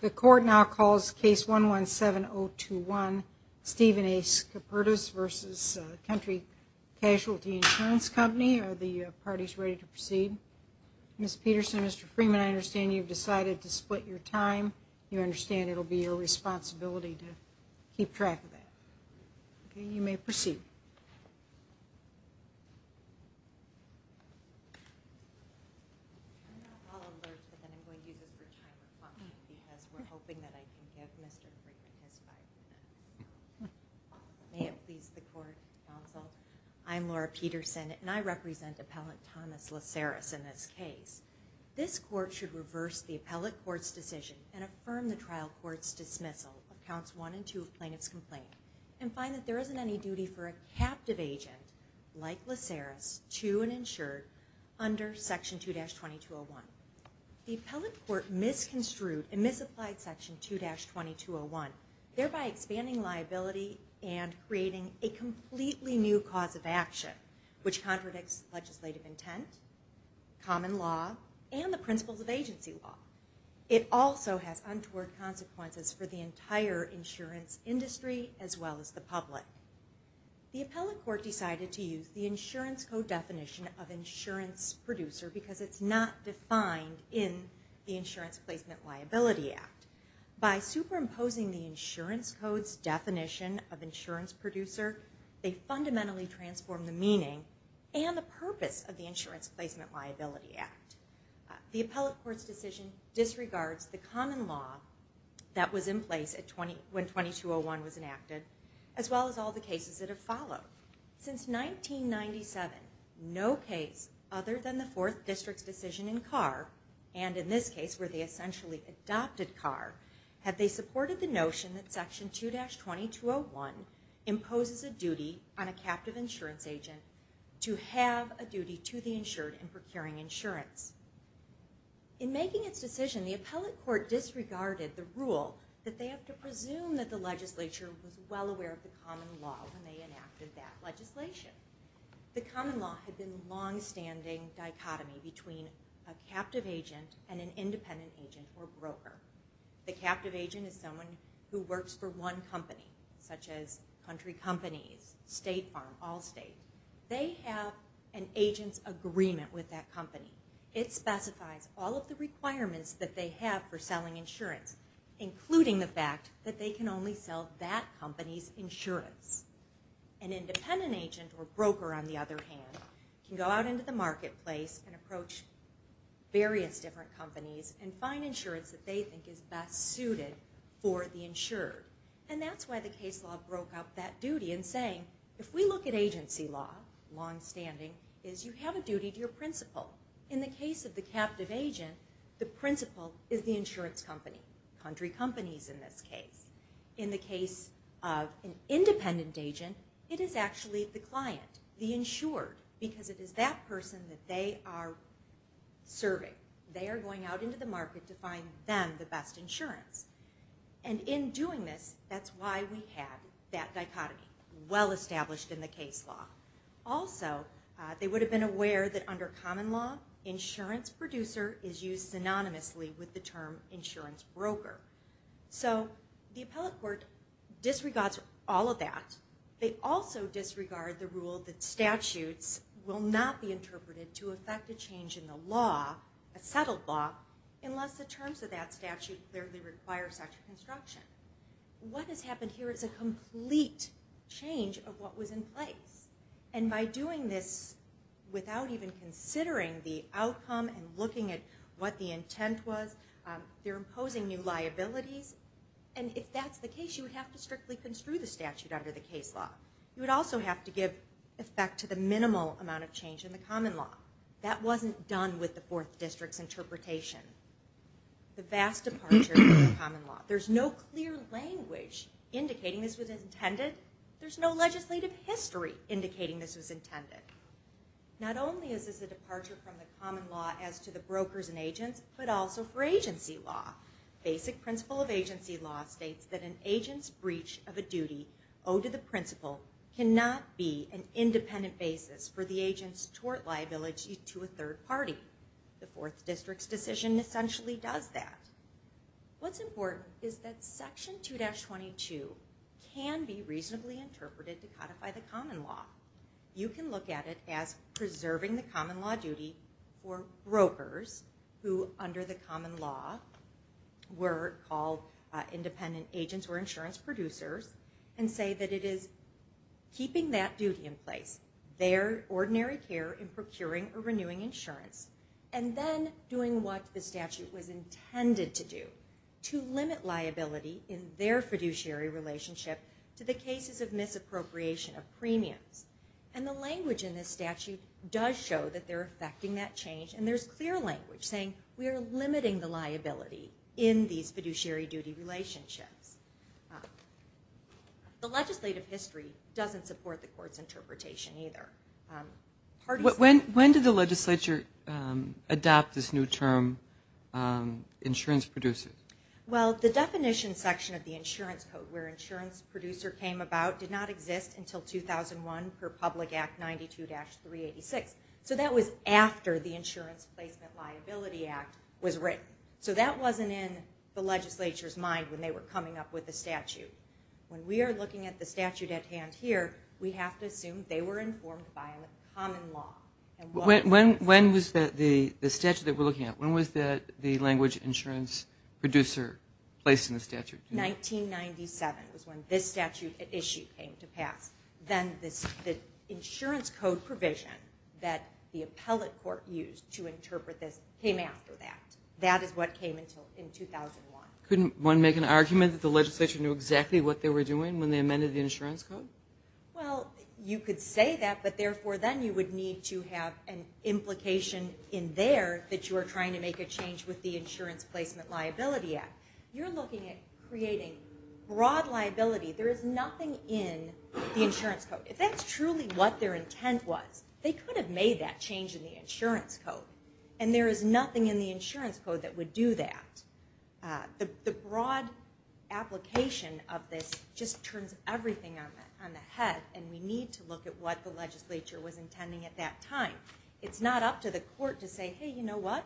The court now calls case 117021 Stephen A. Skaperdas v. Country Casualty Insurance Company. Are the parties ready to proceed? Ms. Peterson, Mr. Freeman, I understand you've decided to split your time. You understand it'll be your responsibility to keep track of that. Okay, you may proceed. Because we're hoping that I can give Mr. Freeman his five year. May it please the court, counsel. I'm Laura Peterson, and I represent appellant Thomas Laceris in this case. This court should reverse the appellate court's decision and affirm the trial court's dismissal of counts 1 and 2 of plaintiff's complaint and find that there isn't any duty for a captive agent like Laceris to an insured under section 2-2201. The appellate court misconstrued and misapplied section 2-2201, thereby expanding liability and creating a completely new cause of action, which contradicts legislative intent, common law, and the principles of agency law. It also has untoward consequences for the entire insurance industry as well as the public. The appellate court decided to use the insurance code definition of insurance producer because it's not defined in the Insurance Placement Liability Act. By superimposing the insurance code's definition of insurance producer, they fundamentally transformed the meaning and the purpose of the Insurance Placement Liability Act. The appellate court's decision disregards the common law that was in place when 2201 was enacted, as well as all the cases that have followed. Since 1997, no case other than the 4th District's decision in Carr, and in this case where they essentially adopted Carr, have they supported the notion that section 2-2201 imposes a duty on a captive insurance agent to have a duty to the insured in procuring insurance. In making its decision, the appellate court disregarded the rule that they have to presume that the legislature was well aware of the common law when they enacted that legislation. The common law had been a long-standing dichotomy between a captive agent and an independent agent or broker. The captive agent is someone who works for one company, such as country companies, State Farm, Allstate. They have an agent's agreement with that company. It specifies all of the requirements that they have for selling insurance, including the fact that they can only sell that company's insurance. An independent agent or broker, on the other hand, can go out into the marketplace and approach various different companies and find insurance that they think is best suited for the insured. And that's why the case law broke up that duty in saying, if we look at agency law, long-standing, is you have a duty to your principal. In the case of the captive agent, the principal is the insurance company, country companies in this case. In the case of an independent agent, it is actually the client, the insured, because it is that person that they are serving. They are going out into the market to find them the best insurance. And in doing this, that's why we have that dichotomy, well established in the case law. Also, they would have been aware that under common law, insurance producer is used synonymously with the term insurance broker. So the appellate court disregards all of that. They also disregard the rule that statutes will not be interpreted to affect a change in the law, a settled law, unless the terms of that statute clearly require such a construction. What has happened here is a complete change of what was in place. And by doing this without even considering the outcome and looking at what the intent was, they're imposing new liabilities. And if that's the case, you would have to strictly construe the statute under the case law. You would also have to give effect to the minimal amount of change in the common law. That wasn't done with the Fourth District's interpretation. The vast departure from common law. There's no clear language indicating this was intended. There's no legislative history indicating this was intended. Not only is this a departure from the common law as to the brokers and agents, but also for agency law. Basic principle of agency law states that an agent's breach of a duty owed to the principal cannot be an independent basis for the agent's tort liability to a third party. The Fourth District's decision essentially does that. What's important is that Section 2-22 can be reasonably interpreted to codify the common law. You can look at it as preserving the common law duty for brokers who under the common law were called independent agents or insurance producers and say that it is keeping that duty in place, their ordinary care in procuring or renewing insurance, and then doing what the statute was intended to do, to limit liability in their fiduciary relationship to the cases of misappropriation of premiums. The language in this statute does show that they're effecting that change, and there's clear language saying we are limiting the liability in these fiduciary duty relationships. The legislative history doesn't support the court's interpretation either. When did the legislature adopt this new term, insurance producers? Well, the definition section of the insurance code where insurance producer came about did not exist until 2001 per Public Act 92-386. So that was after the Insurance Placement Liability Act was written. So that wasn't in the legislature's mind when they were coming up with the statute. When we are looking at the statute at hand here, we have to assume they were informed by a common law. When was the statute that we're looking at, when was the language insurance producer placed in the statute? 1997 was when this statute at issue came to pass. Then the insurance code provision that the appellate court used to interpret this came after that. That is what came in 2001. Couldn't one make an argument that the legislature knew exactly what they were doing when they amended the insurance code? Well, you could say that, but therefore then you would need to have an implication in there that you are trying to make a change with the Insurance Placement Liability Act. You're looking at creating broad liability. There is nothing in the insurance code. If that's truly what their intent was, they could have made that change in the insurance code, and there is nothing in the insurance code that would do that. The broad application of this just turns everything on the head, and we need to look at what the legislature was intending at that time. It's not up to the court to say, hey, you know what?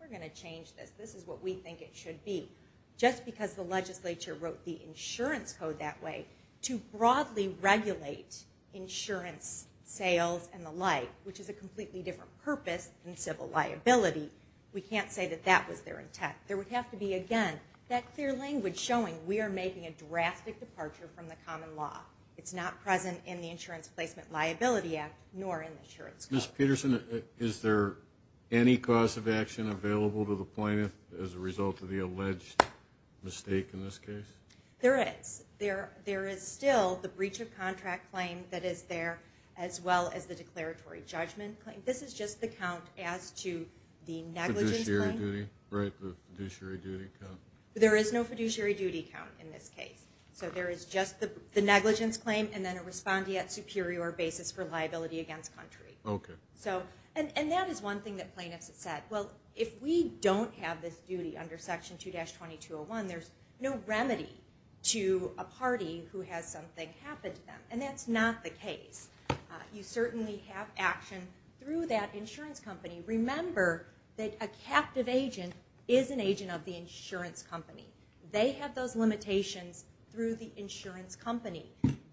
We're going to change this. This is what we think it should be. Just because the legislature wrote the insurance code that way to broadly regulate insurance sales and the like, which is a completely different purpose than civil liability, we can't say that that was their intent. There would have to be, again, that clear language showing we are making a drastic departure from the common law. It's not present in the Insurance Placement Liability Act nor in the insurance code. Ms. Peterson, is there any cause of action available to the plaintiff as a result of the alleged mistake in this case? There is. There is still the breach of contract claim that is there as well as the declaratory judgment claim. This is just the count as to the negligence claim. Fiduciary duty, right? The fiduciary duty count? There is no fiduciary duty count in this case. So there is just the negligence claim and then a respondeat superior basis for liability against country. Okay. And that is one thing that plaintiffs have said. Well, if we don't have this duty under Section 2-2201, there's no remedy to a party who has something happen to them, and that's not the case. You certainly have action through that insurance company. Remember that a captive agent is an agent of the insurance company. They have those limitations through the insurance company.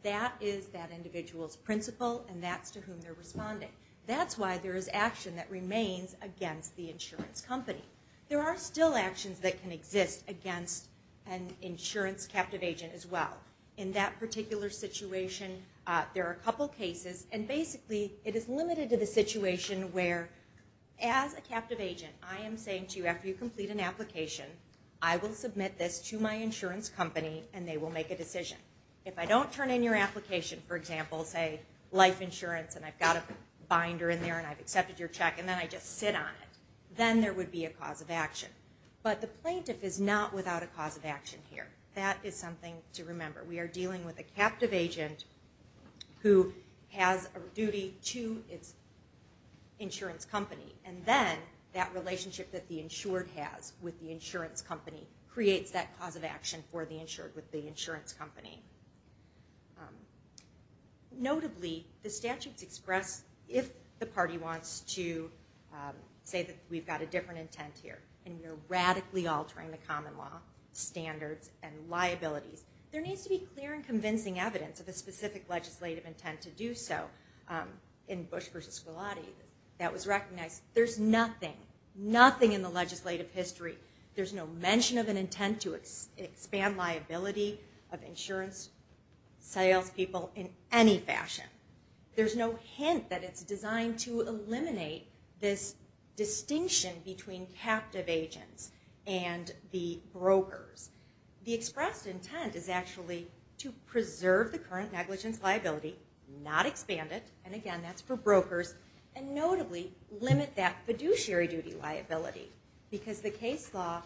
That is that individual's principle, and that's to whom they're responding. That's why there is action that remains against the insurance company. There are still actions that can exist against an insurance captive agent as well. In that particular situation, there are a couple cases, and basically it is limited to the situation where, as a captive agent, I am saying to you after you complete an application, I will submit this to my insurance company and they will make a decision. If I don't turn in your application, for example, say life insurance and I've got a binder in there and I've accepted your check and then I just sit on it, then there would be a cause of action. But the plaintiff is not without a cause of action here. That is something to remember. We are dealing with a captive agent who has a duty to its insurance company, and then that relationship that the insured has with the insurance company creates that cause of action for the insured with the insurance company. Notably, the statutes express if the party wants to say that we've got a different intent here and we're radically altering the common law standards and liabilities. There needs to be clear and convincing evidence of a specific legislative intent to do so. In Bush v. Squillati, that was recognized. There's nothing, nothing in the legislative history, there's no mention of an intent to expand liability of insurance salespeople in any fashion. There's no hint that it's designed to eliminate this distinction between captive agents and the brokers. The expressed intent is actually to preserve the current negligence liability, not expand it, and again that's for brokers, and notably limit that fiduciary duty liability because the case law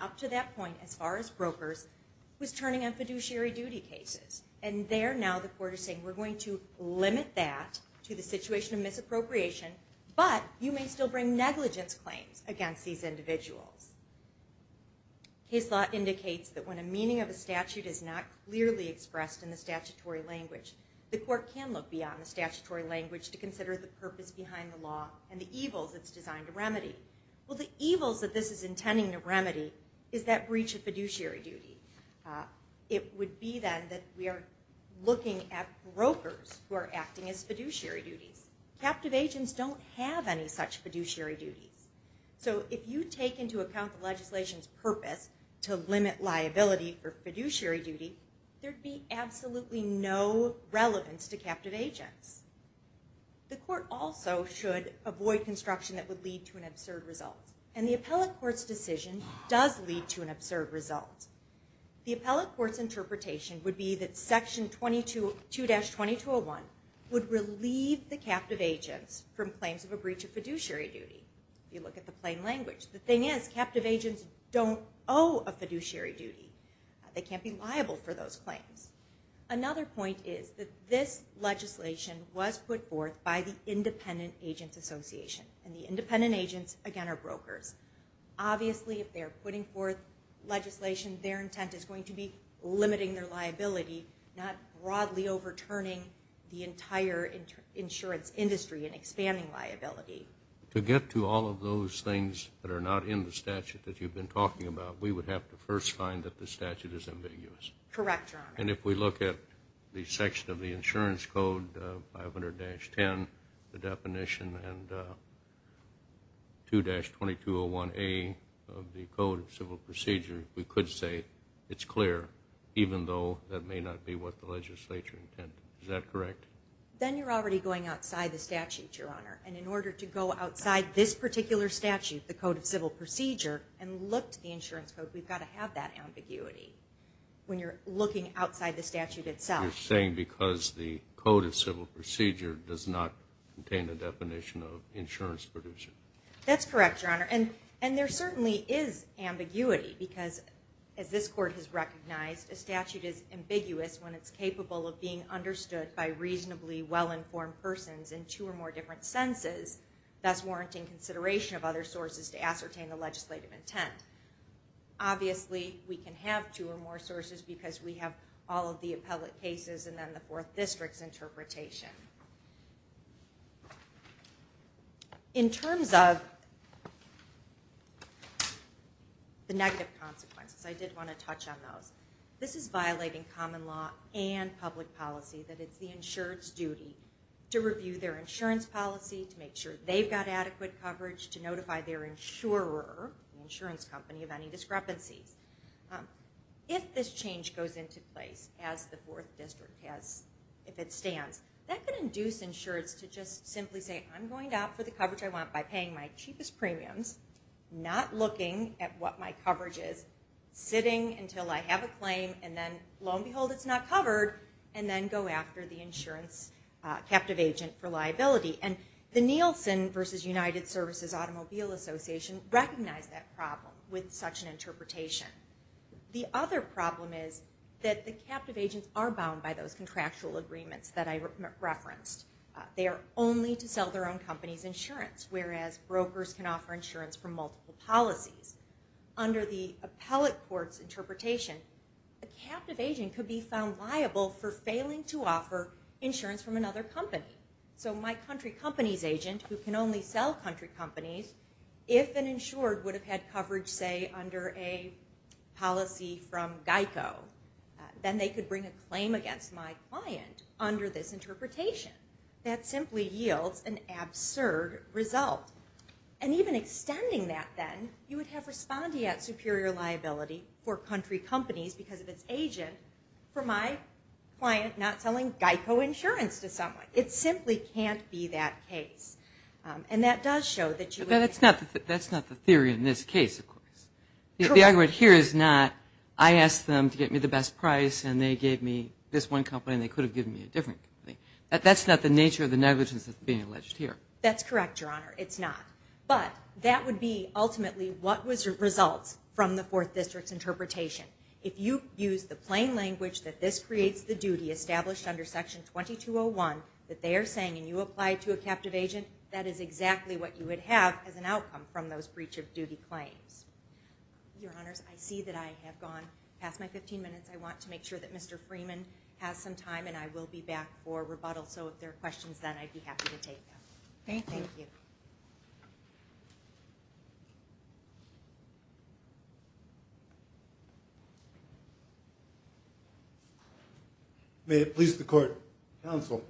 up to that point as far as brokers was turning on fiduciary duty cases. And there now the court is saying we're going to limit that to the situation of misappropriation, but you may still bring negligence claims against these individuals. Case law indicates that when a meaning of a statute is not clearly expressed in the statutory language, the court can look beyond the statutory language to consider the purpose behind the law and the evils it's designed to remedy. Well, the evils that this is intending to remedy is that breach of fiduciary duty. It would be then that we are looking at brokers who are acting as fiduciary duties. Captive agents don't have any such fiduciary duties. So if you take into account the legislation's purpose to limit liability for fiduciary duty, there'd be absolutely no relevance to captive agents. The court also should avoid construction that would lead to an absurd result. And the appellate court's decision does lead to an absurd result. The appellate court's interpretation would be that Section 2-2201 would relieve the captive agents from claims of a breach of fiduciary duty. You look at the plain language. The thing is, captive agents don't owe a fiduciary duty. They can't be liable for those claims. Another point is that this legislation was put forth by the Independent Agents Association, and the independent agents, again, are brokers. Obviously, if they're putting forth legislation, their intent is going to be limiting their liability, not broadly overturning the entire insurance industry and expanding liability. To get to all of those things that are not in the statute that you've been talking about, we would have to first find that the statute is ambiguous. Correct, Your Honor. And if we look at the section of the Insurance Code, 500-10, the definition and 2-2201A of the Code of Civil Procedure, we could say it's clear, even though that may not be what the legislature intended. Is that correct? Then you're already going outside the statute, Your Honor. And in order to go outside this particular statute, the Code of Civil Procedure, and look to the Insurance Code, we've got to have that ambiguity when you're looking outside the statute itself. You're saying because the Code of Civil Procedure does not contain the definition of insurance producer. That's correct, Your Honor. And there certainly is ambiguity because, as this Court has recognized, a statute is ambiguous when it's capable of being understood by reasonably well-informed persons in two or more different senses, thus warranting consideration of other sources to ascertain the legislative intent. Obviously, we can have two or more sources because we have all of the appellate cases and then the Fourth District's interpretation. In terms of the negative consequences, I did want to touch on those. This is violating common law and public policy that it's the insurer's duty to review their insurance policy, to make sure they've got adequate coverage, to notify their insurer, the insurance company, of any discrepancies. If this change goes into place, as the Fourth District has, if it stands, that could induce insurers to just simply say, I'm going out for the coverage I want by paying my cheapest premiums, not looking at what my coverage is, sitting until I have a claim, and then, lo and behold, it's not covered, and then go after the insurance captive agent for liability. And the Nielsen v. United Services Automobile Association recognized that problem with such an interpretation. The other problem is that the captive agents are bound by those contractual agreements that I referenced. They are only to sell their own company's insurance, whereas brokers can offer insurance from multiple policies. Under the appellate court's interpretation, a captive agent could be found liable for failing to offer insurance from another company. So my country company's agent, who can only sell country companies, if an insured would have had coverage, say, under a policy from GEICO, then they could bring a claim against my client under this interpretation. That simply yields an absurd result. And even extending that, then, you would have respondeat superior liability for country companies because of its agent for my client not selling GEICO insurance to someone. It simply can't be that case. And that does show that you would... That's not the theory in this case, of course. The argument here is not, I asked them to get me the best price and they gave me this one company and they could have given me a different company. That's not the nature of the negligence that's being alleged here. That's correct, Your Honor. It's not. But that would be, ultimately, what was the result from the Fourth District's interpretation. If you use the plain language that this creates the duty established under Section 2201 that they are saying and you apply to a captive agent, that is exactly what you would have as an outcome from those breach of duty claims. Your Honors, I see that I have gone past my 15 minutes. I want to make sure that Mr. Freeman has some time and I will be back for rebuttal. So if there are questions, then, I'd be happy to take them. Thank you. May it please the Court, Counsel,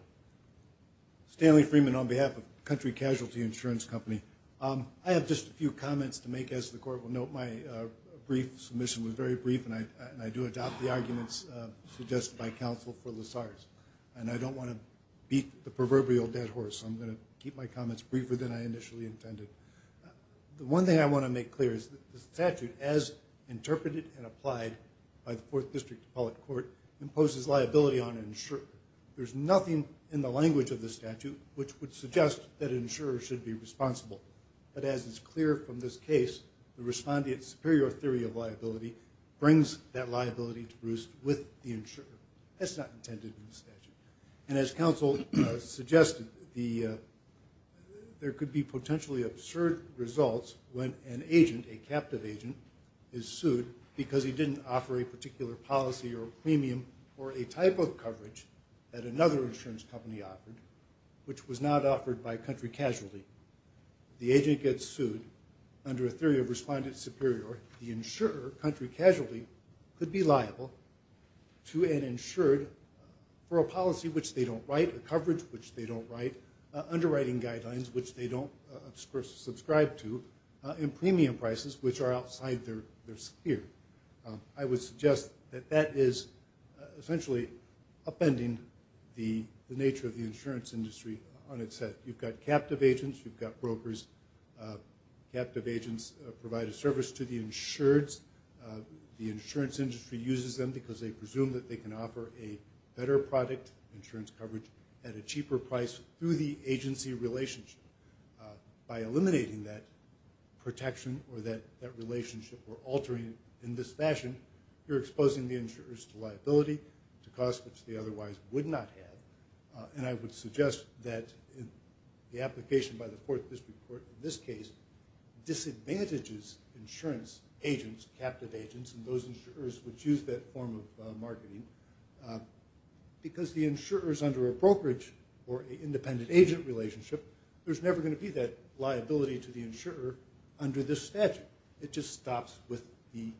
Stanley Freeman on behalf of Country Casualty Insurance Company. I have just a few comments to make, as the Court will note. My brief submission was very brief and I do adopt the arguments suggested by counsel for LaSarge. And I don't want to beat the proverbial dead horse, so I'm going to keep my comments briefer than I initially intended. The one thing I want to make clear is that the statute, as interpreted and applied by the Fourth District imposes liability on an insurer. There's nothing in the language of the statute which would suggest that an insurer should be responsible. But as is clear from this case, the respondent's superior theory of liability brings that liability to Bruce with the insurer. That's not intended in the statute. And as counsel suggested, there could be potentially absurd results when an agent, a captive agent, is sued because he didn't offer a particular policy or premium or a type of coverage that another insurance company offered, which was not offered by Country Casualty. The agent gets sued under a theory of respondent superior. The insurer, Country Casualty, could be liable to an insured for a policy which they don't write, a coverage which they don't write, underwriting guidelines which they don't subscribe to, and premium prices which are outside their sphere. I would suggest that that is essentially upending the nature of the insurance industry on its head. You've got captive agents. You've got brokers. Captive agents provide a service to the insureds. The insurance industry uses them because they presume that they can offer a better product, insurance coverage at a cheaper price through the agency relationship. By eliminating that protection or that relationship or altering it in this fashion, you're exposing the insurers to liability, to costs which they otherwise would not have. And I would suggest that the application by the Fourth District Court in this case disadvantages insurance agents, captive agents and those insurers which use that form of marketing, because the insurers under a brokerage or an independent agent relationship, there's never going to be that liability to the insurer under this statute. It just stops with the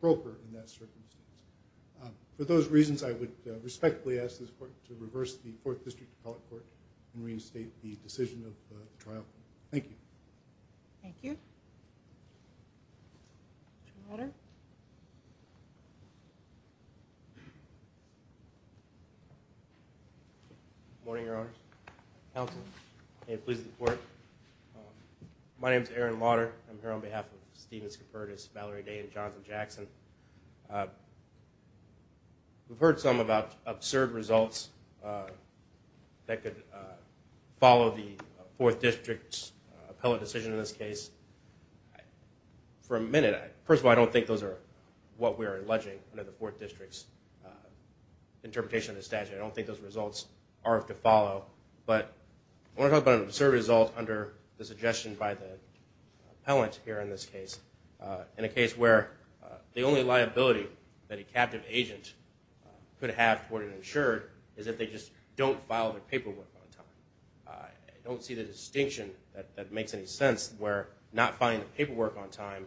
broker in that circumstance. For those reasons, I would respectfully ask this Court to reverse the Fourth District Appellate Court and reinstate the decision of the trial. Thank you. Thank you. Any other? Good morning, Your Honors. Counsel. May it please the Court. My name is Aaron Lauder. I'm here on behalf of Stephen Scopertis, Valerie Day, and Jonathan Jackson. We've heard some about absurd results that could follow the Fourth District's appellate decision in this case. For a minute, first of all, I don't think those are what we are alleging under the Fourth District's interpretation of the statute. I don't think those results are to follow. But I want to talk about an absurd result under the suggestion by the appellant here in this case, in a case where the only liability that a captive agent could have toward an insured is if they just don't file their paperwork on time. I don't see the distinction that makes any sense where not filing the paperwork on time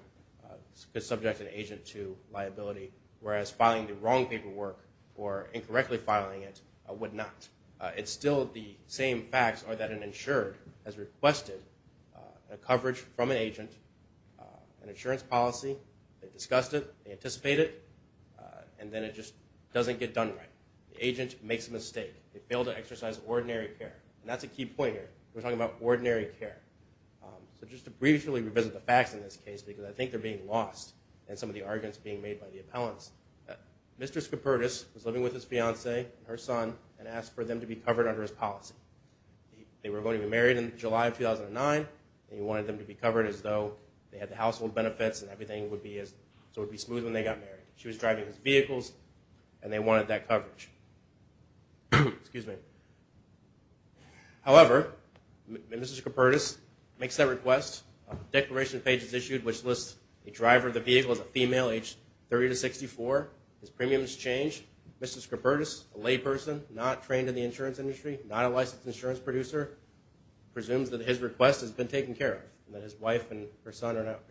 is subject an agent to liability, whereas filing the wrong paperwork or incorrectly filing it would not. It's still the same facts are that an insured has requested a coverage from an agent, an insurance policy. They discussed it. They anticipate it. And then it just doesn't get done right. The agent makes a mistake. They fail to exercise ordinary care. And that's a key point here. We're talking about ordinary care. So just to briefly revisit the facts in this case, because I think they're being lost in some of the arguments being made by the appellants, Mr. Scopertis was living with his fiancée and her son and asked for them to be covered under his policy. They were going to be married in July of 2009, and he wanted them to be covered as though they had the household benefits and everything would be smooth when they got married. She was driving his vehicles, and they wanted that coverage. However, Mr. Scopertis makes that request. A declaration page is issued which lists a driver of the vehicle as a female, age 30 to 64. His premiums change. Mr. Scopertis, a layperson, not trained in the insurance industry, not a licensed insurance producer, presumes that his request has been taken care of, and that his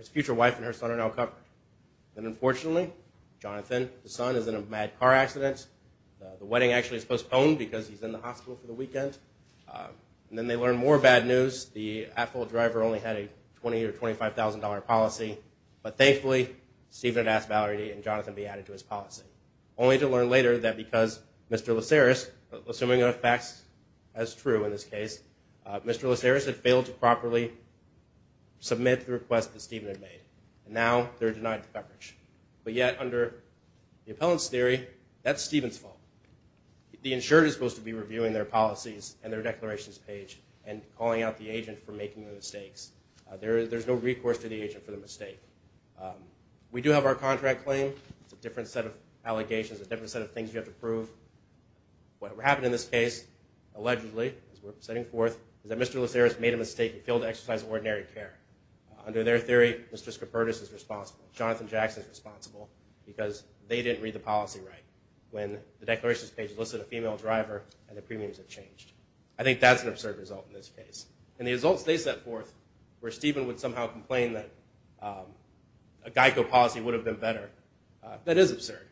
future wife and her son are now covered. And unfortunately, Jonathan, his son, is in a mad car accident. The wedding actually is postponed because he's in the hospital for the weekend. And then they learn more bad news. The at-fault driver only had a $20,000 or $25,000 policy. But thankfully, Stephen had asked Valerie and Jonathan to be added to his policy, only to learn later that because Mr. Laceris, assuming enough facts as true in this case, Mr. Laceris had failed to properly submit the request that Stephen had made, and now they're denied the coverage. But yet, under the appellant's theory, that's Stephen's fault. The insurer is supposed to be reviewing their policies and their declarations page and calling out the agent for making the mistakes. There's no recourse to the agent for the mistake. We do have our contract claim. It's a different set of allegations, a different set of things you have to prove. What happened in this case, allegedly, as we're setting forth, is that Mr. Laceris made a mistake and failed to exercise ordinary care. Under their theory, Mr. Scopertis is responsible. Jonathan Jackson is responsible because they didn't read the policy right when the declarations page listed a female driver and the premiums have changed. I think that's an absurd result in this case. And the results they set forth where Stephen would somehow complain that a GEICO policy would have been better, that is absurd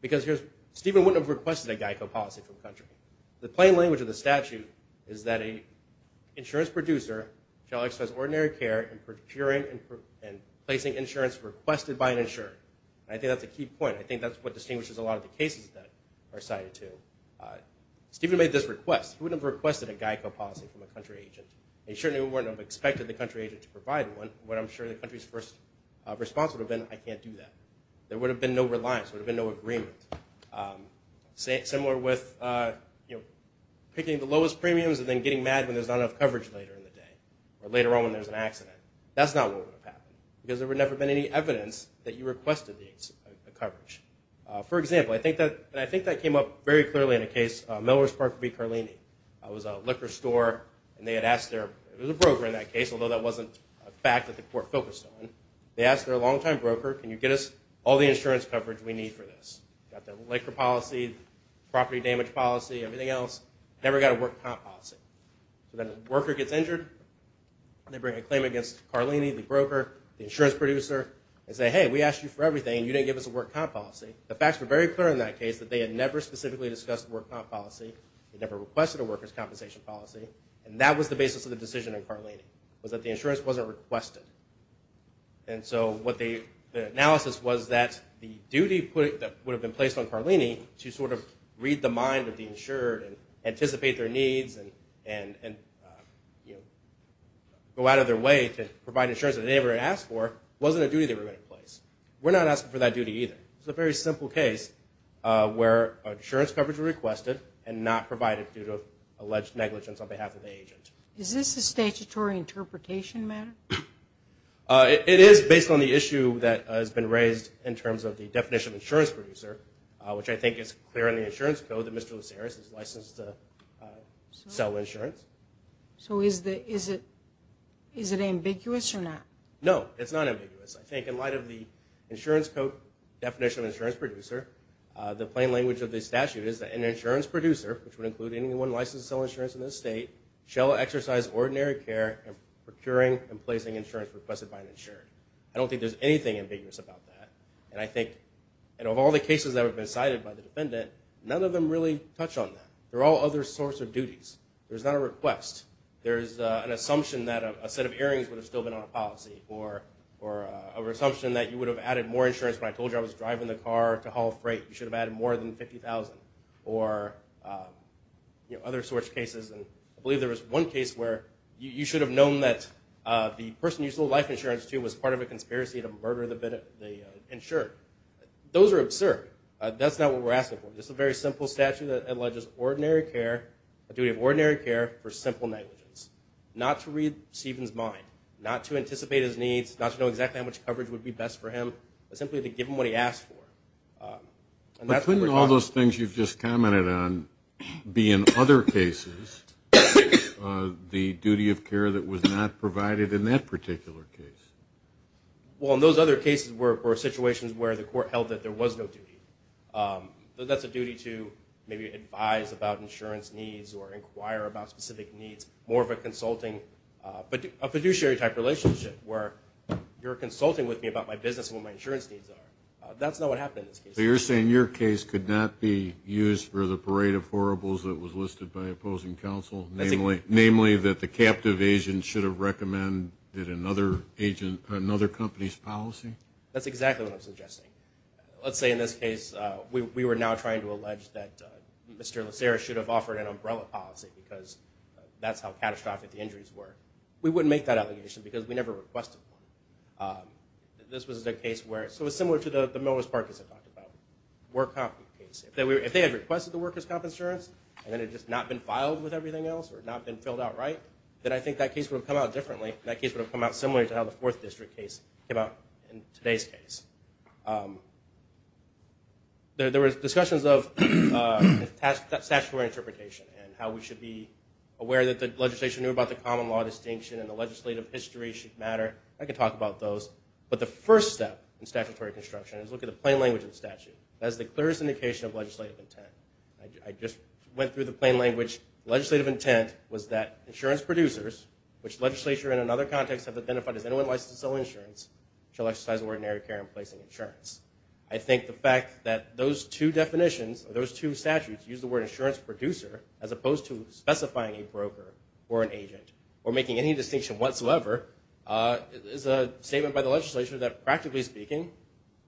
because Stephen wouldn't have requested a GEICO policy for the country. The plain language of the statute is that an insurance producer shall exercise ordinary care in procuring and placing insurance requested by an insurer. I think that's a key point. I think that's what distinguishes a lot of the cases that are cited too. Stephen made this request. He wouldn't have requested a GEICO policy from a country agent. He certainly wouldn't have expected the country agent to provide one. What I'm sure the country's first response would have been, I can't do that. There would have been no reliance. There would have been no agreement. Similar with picking the lowest premiums and then getting mad when there's not enough coverage later in the day or later on when there's an accident. That's not what would have happened because there would never have been any evidence that you requested the coverage. For example, and I think that came up very clearly in a case, Melrose Park v. Carlini. It was a liquor store and they had asked their, it was a broker in that case, although that wasn't a fact that the court focused on. They asked their long-time broker, can you get us all the insurance coverage we need for this? Got the liquor policy, property damage policy, everything else. Never got a work comp policy. So then a worker gets injured, they bring a claim against Carlini, the broker, the insurance producer, and say, hey, we asked you for everything and you didn't give us a work comp policy. The facts were very clear in that case that they had never specifically discussed work comp policy. They never requested a worker's compensation policy. And that was the basis of the decision in Carlini, was that the insurance wasn't requested. And so what the analysis was that the duty that would have been placed on Carlini to sort of read the mind of the insured and anticipate their needs and go out of their way to provide insurance that they never had asked for were not asked for that duty either. It's a very simple case where insurance coverage was requested and not provided due to alleged negligence on behalf of the agent. Is this a statutory interpretation matter? It is based on the issue that has been raised in terms of the definition of insurance producer, which I think is clear in the insurance code that Mr. Luceris is licensed to sell insurance. So is it ambiguous or not? No, it's not ambiguous. I think in light of the insurance code definition of insurance producer, the plain language of the statute is that an insurance producer, which would include anyone licensed to sell insurance in this state, shall exercise ordinary care in procuring and placing insurance requested by an insured. I don't think there's anything ambiguous about that. And I think of all the cases that have been cited by the defendant, none of them really touch on that. They're all other sorts of duties. There's not a request. There's an assumption that a set of earrings would have still been on a policy or an assumption that you would have added more insurance when I told you I was driving the car to haul freight. You should have added more than $50,000 or other sorts of cases. I believe there was one case where you should have known that the person you sold life insurance to was part of a conspiracy to murder the insured. Those are absurd. That's not what we're asking for. This is a very simple statute that alleges a duty of ordinary care for simple negligence, not to read Stevens' mind, not to anticipate his needs, not to know exactly how much coverage would be best for him, but simply to give him what he asked for. But couldn't all those things you've just commented on be, in other cases, the duty of care that was not provided in that particular case? Well, in those other cases were situations where the court held that there was no duty. That's a duty to maybe advise about insurance needs or inquire about specific needs, more of a consulting, a fiduciary type relationship where you're consulting with me about my business and what my insurance needs are. That's not what happened in this case. So you're saying your case could not be used for the parade of horribles that was listed by opposing counsel, namely that the captive agent should have recommended another company's policy? That's exactly what I'm suggesting. Let's say in this case we were now trying to allege that Mr. Lacera should have offered an umbrella policy because that's how catastrophic the injuries were. We wouldn't make that allegation because we never requested one. This was a case where, so it's similar to the Milwaukee Park incident. If they had requested the workers' comp insurance and then it had just not been filed with everything else or not been filled out right, then I think that case would have come out differently. That case would have come out similar to how the Fourth District case came out in today's case. There were discussions of statutory interpretation and how we should be aware that the legislation knew about the common law distinction and the legislative history should matter. I could talk about those. But the first step in statutory construction is look at the plain language of the statute. That is the clearest indication of legislative intent. I just went through the plain language. Legislative intent was that insurance producers, which legislature in another context have identified as anyone licensed to sell insurance, shall exercise ordinary care in placing insurance. I think the fact that those two definitions, those two statutes use the word insurance producer as opposed to specifying a broker or an agent or making any distinction whatsoever is a statement by the legislature that practically speaking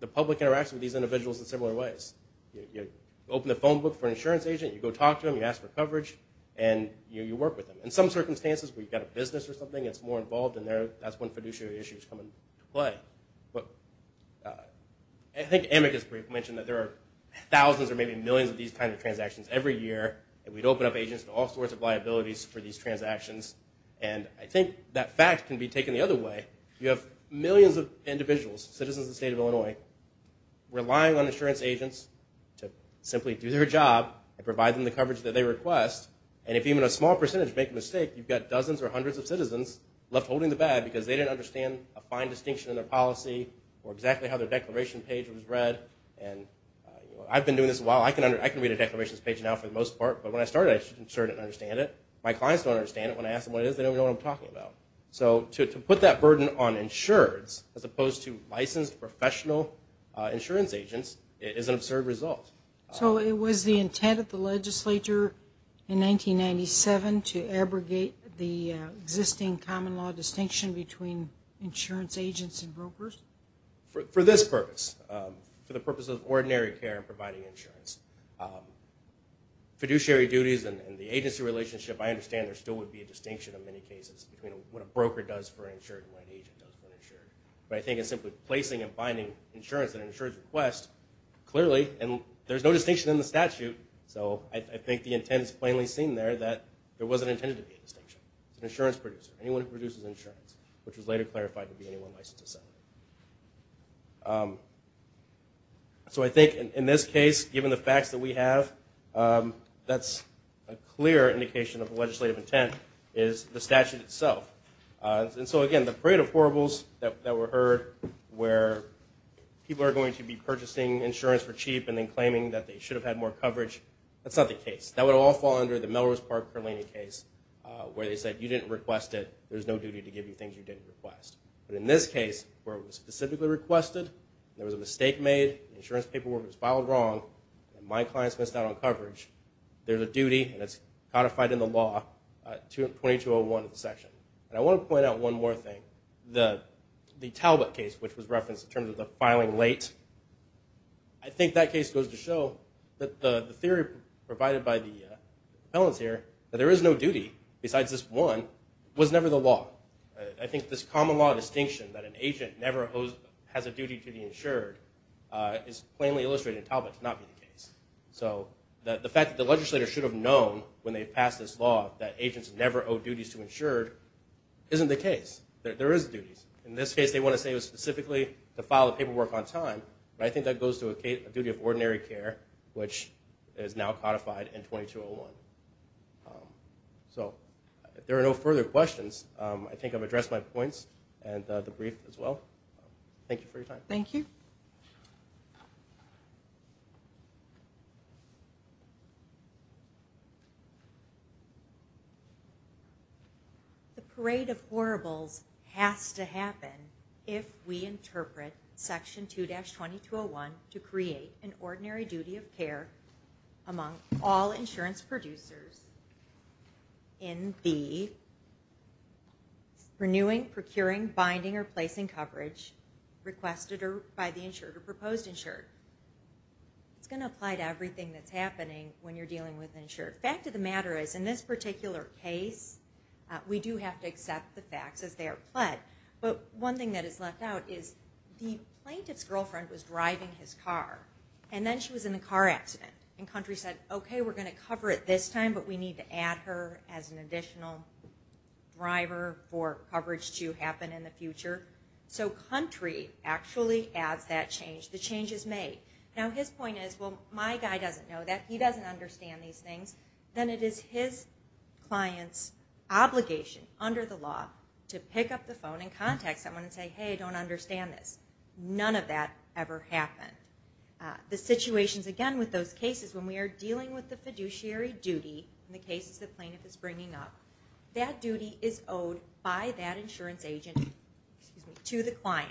the public interacts with these individuals in similar ways. You open the phone book for an insurance agent. You go talk to them. You ask for coverage. And you work with them. In some circumstances where you've got a business or something that's more involved in there, that's when fiduciary issues come into play. But I think Emick has mentioned that there are thousands or maybe millions of these kinds of transactions every year. And we'd open up agents to all sorts of liabilities for these transactions. And I think that fact can be taken the other way. You have millions of individuals, citizens of the state of Illinois, relying on insurance agents to simply do their job and provide them the coverage that they request. And if even a small percentage make a mistake, you've got dozens or hundreds of citizens left holding the bag because they didn't understand a fine distinction in their policy or exactly how their declaration page was read. And I've been doing this a while. I can read a declarations page now for the most part. But when I started, I sure didn't understand it. My clients don't understand it. When I ask them what it is, they don't even know what I'm talking about. So to put that burden on insurance, as opposed to licensed professional insurance agents, is an absurd result. So it was the intent of the legislature in 1997 to abrogate the existing common law distinction between insurance agents and brokers? For this purpose, for the purpose of ordinary care and providing insurance. Fiduciary duties and the agency relationship, I understand there still would be a distinction in many cases between what a broker does for insurance and what an agent does for insurance. But I think it's simply placing and finding insurance in an insurance request, clearly, and there's no distinction in the statute. So I think the intent is plainly seen there that there wasn't intended to be a distinction. It's an insurance producer, anyone who produces insurance, which was later clarified to be anyone licensed to sell it. So I think in this case, given the facts that we have, that's a clear indication of the legislative intent is the statute itself. And so again, the parade of horribles that were heard where people are going to be purchasing insurance for cheap and then claiming that they should have had more coverage, that's not the case. That would all fall under the Melrose Park-Perlaney case where they said you didn't request it, there's no duty to give you things you didn't request. But in this case, where it was specifically requested, there was a mistake made, the insurance paperwork was filed wrong, and my clients missed out on coverage, there's a duty that's codified in the law, 2201 of the section. And I want to point out one more thing. The Talbot case, which was referenced in terms of the filing late, I think that case goes to show that the theory provided by the appellants here that there is no duty besides this one was never the law. I think this common law distinction that an agent never has a duty to be insured is plainly illustrated in Talbot to not be the case. So the fact that the legislator should have known when they passed this law that agents never owe duties to insured isn't the case. There is duties. In this case, they want to say it was specifically to file the paperwork on time, but I think that goes to a duty of ordinary care, which is now codified in 2201. So if there are no further questions, I think I've addressed my points and the brief as well. Thank you for your time. Thank you. Thank you. The parade of horribles has to happen if we interpret Section 2-2201 to create an ordinary duty of care among all insurance producers in the renewing, procuring, binding, or placing coverage requested by the insured or proposed insured. It's going to apply to everything that's happening when you're dealing with insured. Fact of the matter is, in this particular case, we do have to accept the facts as they are pled. But one thing that is left out is the plaintiff's girlfriend was driving his car, and then she was in a car accident, and Country said, okay, we're going to cover it this time, but we need to add her as an additional driver for coverage to happen in the future. So Country actually adds that change. The change is made. Now, his point is, well, my guy doesn't know that. He doesn't understand these things. Then it is his client's obligation under the law to pick up the phone and contact someone and say, hey, I don't understand this. None of that ever happened. The situations, again, with those cases when we are dealing with the fiduciary duty in the cases the plaintiff is bringing up, that duty is owed by that insurance agent to the client.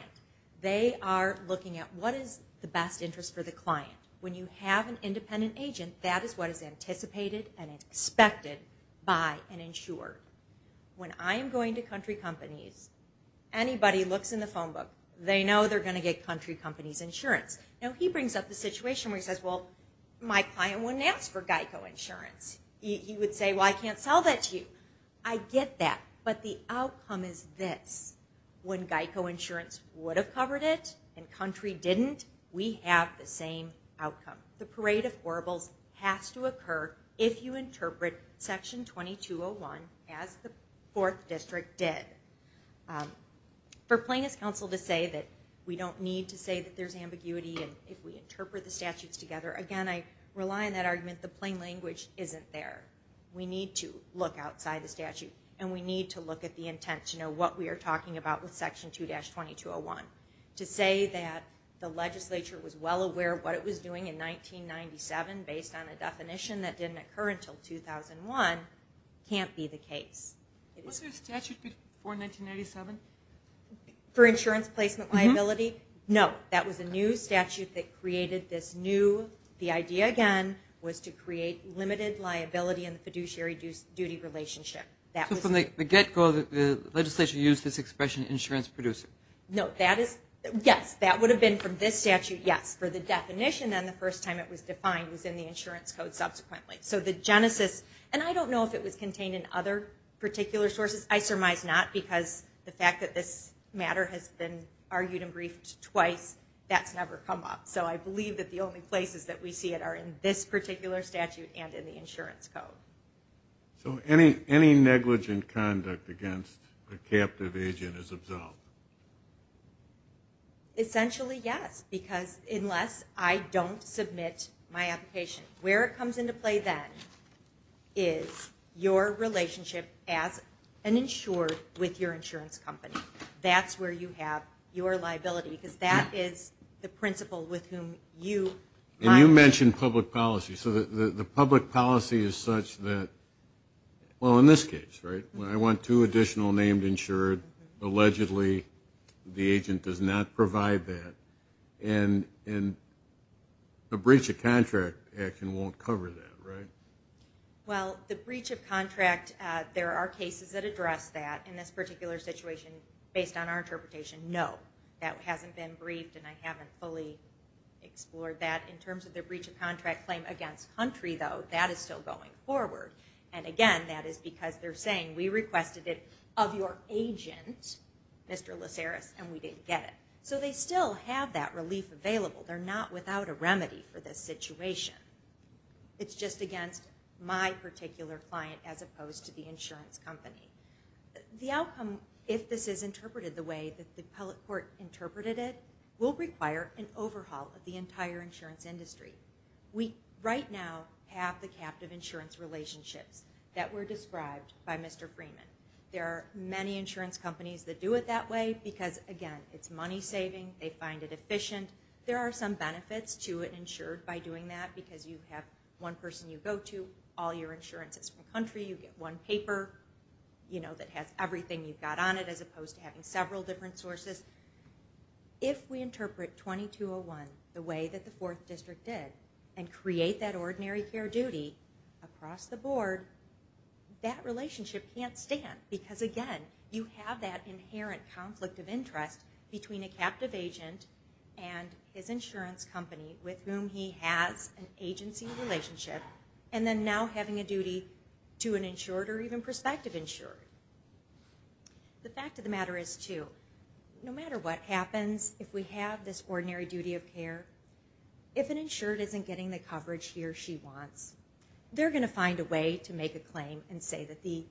They are looking at what is the best interest for the client. When you have an independent agent, that is what is anticipated and expected by an insurer. When I am going to Country Companies, anybody looks in the phone book, they know they're going to get Country Companies insurance. Now, he brings up the situation where he says, well, my client wouldn't ask for GEICO insurance. He would say, well, I can't sell that to you. I get that, but the outcome is this. When GEICO insurance would have covered it and Country didn't, we have the same outcome. The parade of horribles has to occur if you interpret Section 2201 as the 4th District did. For Plaintiff's Counsel to say that we don't need to say that there's ambiguity if we interpret the statutes together, again, I rely on that argument. The plain language isn't there. We need to look outside the statute and we need to look at the intent to know what we are talking about with Section 2-2201. To say that the legislature was well aware of what it was doing in 1997 based on a definition that didn't occur until 2001 can't be the case. Was there a statute before 1997? For insurance placement liability? No, that was a new statute that created this new, the idea again was to create limited liability in the fiduciary duty relationship. So from the get-go the legislature used this expression insurance producer? No, that is, yes, that would have been from this statute, yes. For the definition and the first time it was defined was in the insurance code subsequently. So the genesis, and I don't know if it was contained in other particular sources. I surmise not because the fact that this matter has been argued and briefed twice, that's never come up. So I believe that the only places that we see it are in this particular statute and in the insurance code. So any negligent conduct against a captive agent is absolved? Essentially, yes, because unless I don't submit my application, where it comes into play then is your relationship as an insured with your insurance company. That's where you have your liability because that is the principle with whom you... And you mentioned public policy. So the public policy is such that, well, in this case, right, when I want two additional named insured, allegedly the agent does not provide that, and a breach of contract action won't cover that, right? Well, the breach of contract, there are cases that address that in this particular situation based on our interpretation. No, that hasn't been briefed and I haven't fully explored that in terms of the breach of contract claim against country, though. That is still going forward. And again, that is because they're saying, we requested it of your agent, Mr. Laceris, and we didn't get it. So they still have that relief available. They're not without a remedy for this situation. It's just against my particular client as opposed to the insurance company. The outcome, if this is interpreted the way that the appellate court interpreted it, will require an overhaul of the entire insurance industry. We right now have the captive insurance relationships that were described by Mr. Freeman. There are many insurance companies that do it that way because, again, it's money saving, they find it efficient. There are some benefits to it insured by doing that because you have one person you go to, all your insurance is from country, you get one paper that has everything you've got on it as opposed to having several different sources. If we interpret 2201 the way that the Fourth District did and create that ordinary care duty across the board, that relationship can't stand because, again, you have that inherent conflict of interest between a captive agent and his insurance company with whom he has an agency relationship and then now having a duty to an insured or even prospective insured. The fact of the matter is, too, no matter what happens, if we have this ordinary duty of care, if an insured isn't getting the coverage he or she wants, they're going to find a way to make a claim and say that the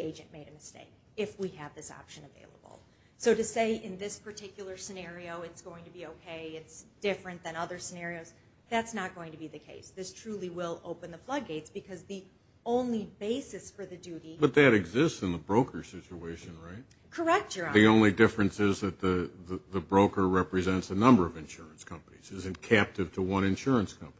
agent made a mistake if we have this option available. So to say in this particular scenario it's going to be okay, it's different than other scenarios, that's not going to be the case. This truly will open the floodgates because the only basis for the duty... But that exists in the broker situation, right? Correct, Your Honor. The only difference is that the broker represents a number of insurance companies, isn't captive to one insurance company.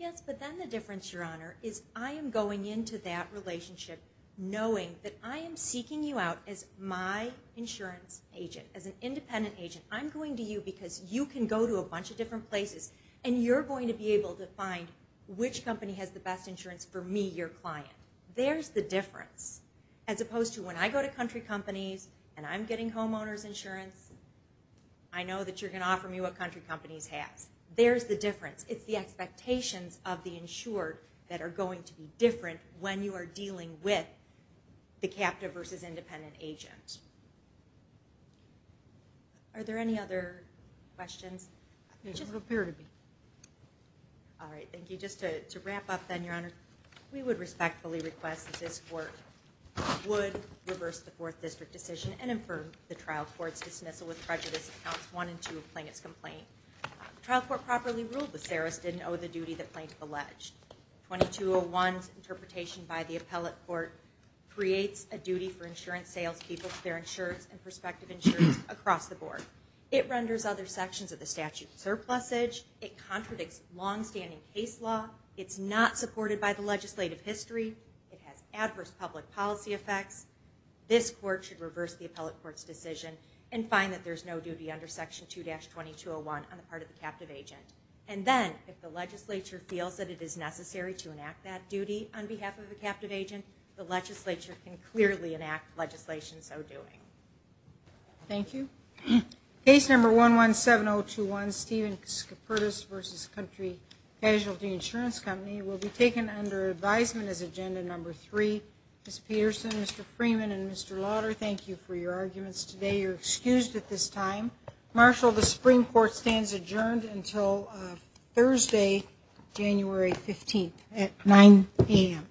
Yes, but then the difference, Your Honor, is I am going into that relationship knowing that I am seeking you out as my insurance agent, as an independent agent. I'm going to you because you can go to a bunch of different places and you're going to be able to find which company has the best insurance for me, your client. There's the difference. As opposed to when I go to country companies and I'm getting homeowner's insurance, I know that you're going to offer me what country companies have. There's the difference. It's the expectations of the insured that are going to be different when you are dealing with the captive versus independent agent. Are there any other questions? There doesn't appear to be. All right, thank you. Just to wrap up then, Your Honor, we would respectfully request that this Court would reverse the 4th District decision and infer the trial court's dismissal with prejudice in Counts 1 and 2 of Plaintiff's complaint. The trial court properly ruled the Saris didn't owe the duty the plaintiff alleged. 2201's interpretation by the appellate court creates a duty for insurance salespeople to bear insurance and prospective insurance across the board. It renders other sections of the statute surplusage. It contradicts longstanding case law. It's not supported by the legislative history. It has adverse public policy effects. This Court should reverse the appellate court's decision and find that there's no duty under Section 2-2201 on the part of the captive agent. And then, if the legislature feels that it is necessary to enact that duty on behalf of the captive agent, the legislature can clearly enact legislation so doing. Thank you. Case number 117021, Stephen Skipertis v. Country Casualty Insurance Company, will be taken under advisement as Agenda 3. Ms. Peterson, Mr. Freeman, and Mr. Lauder, thank you for your arguments today. You're excused at this time. Marshal, the Supreme Court stands adjourned until Thursday, January 15th at 9 a.m. Thank you.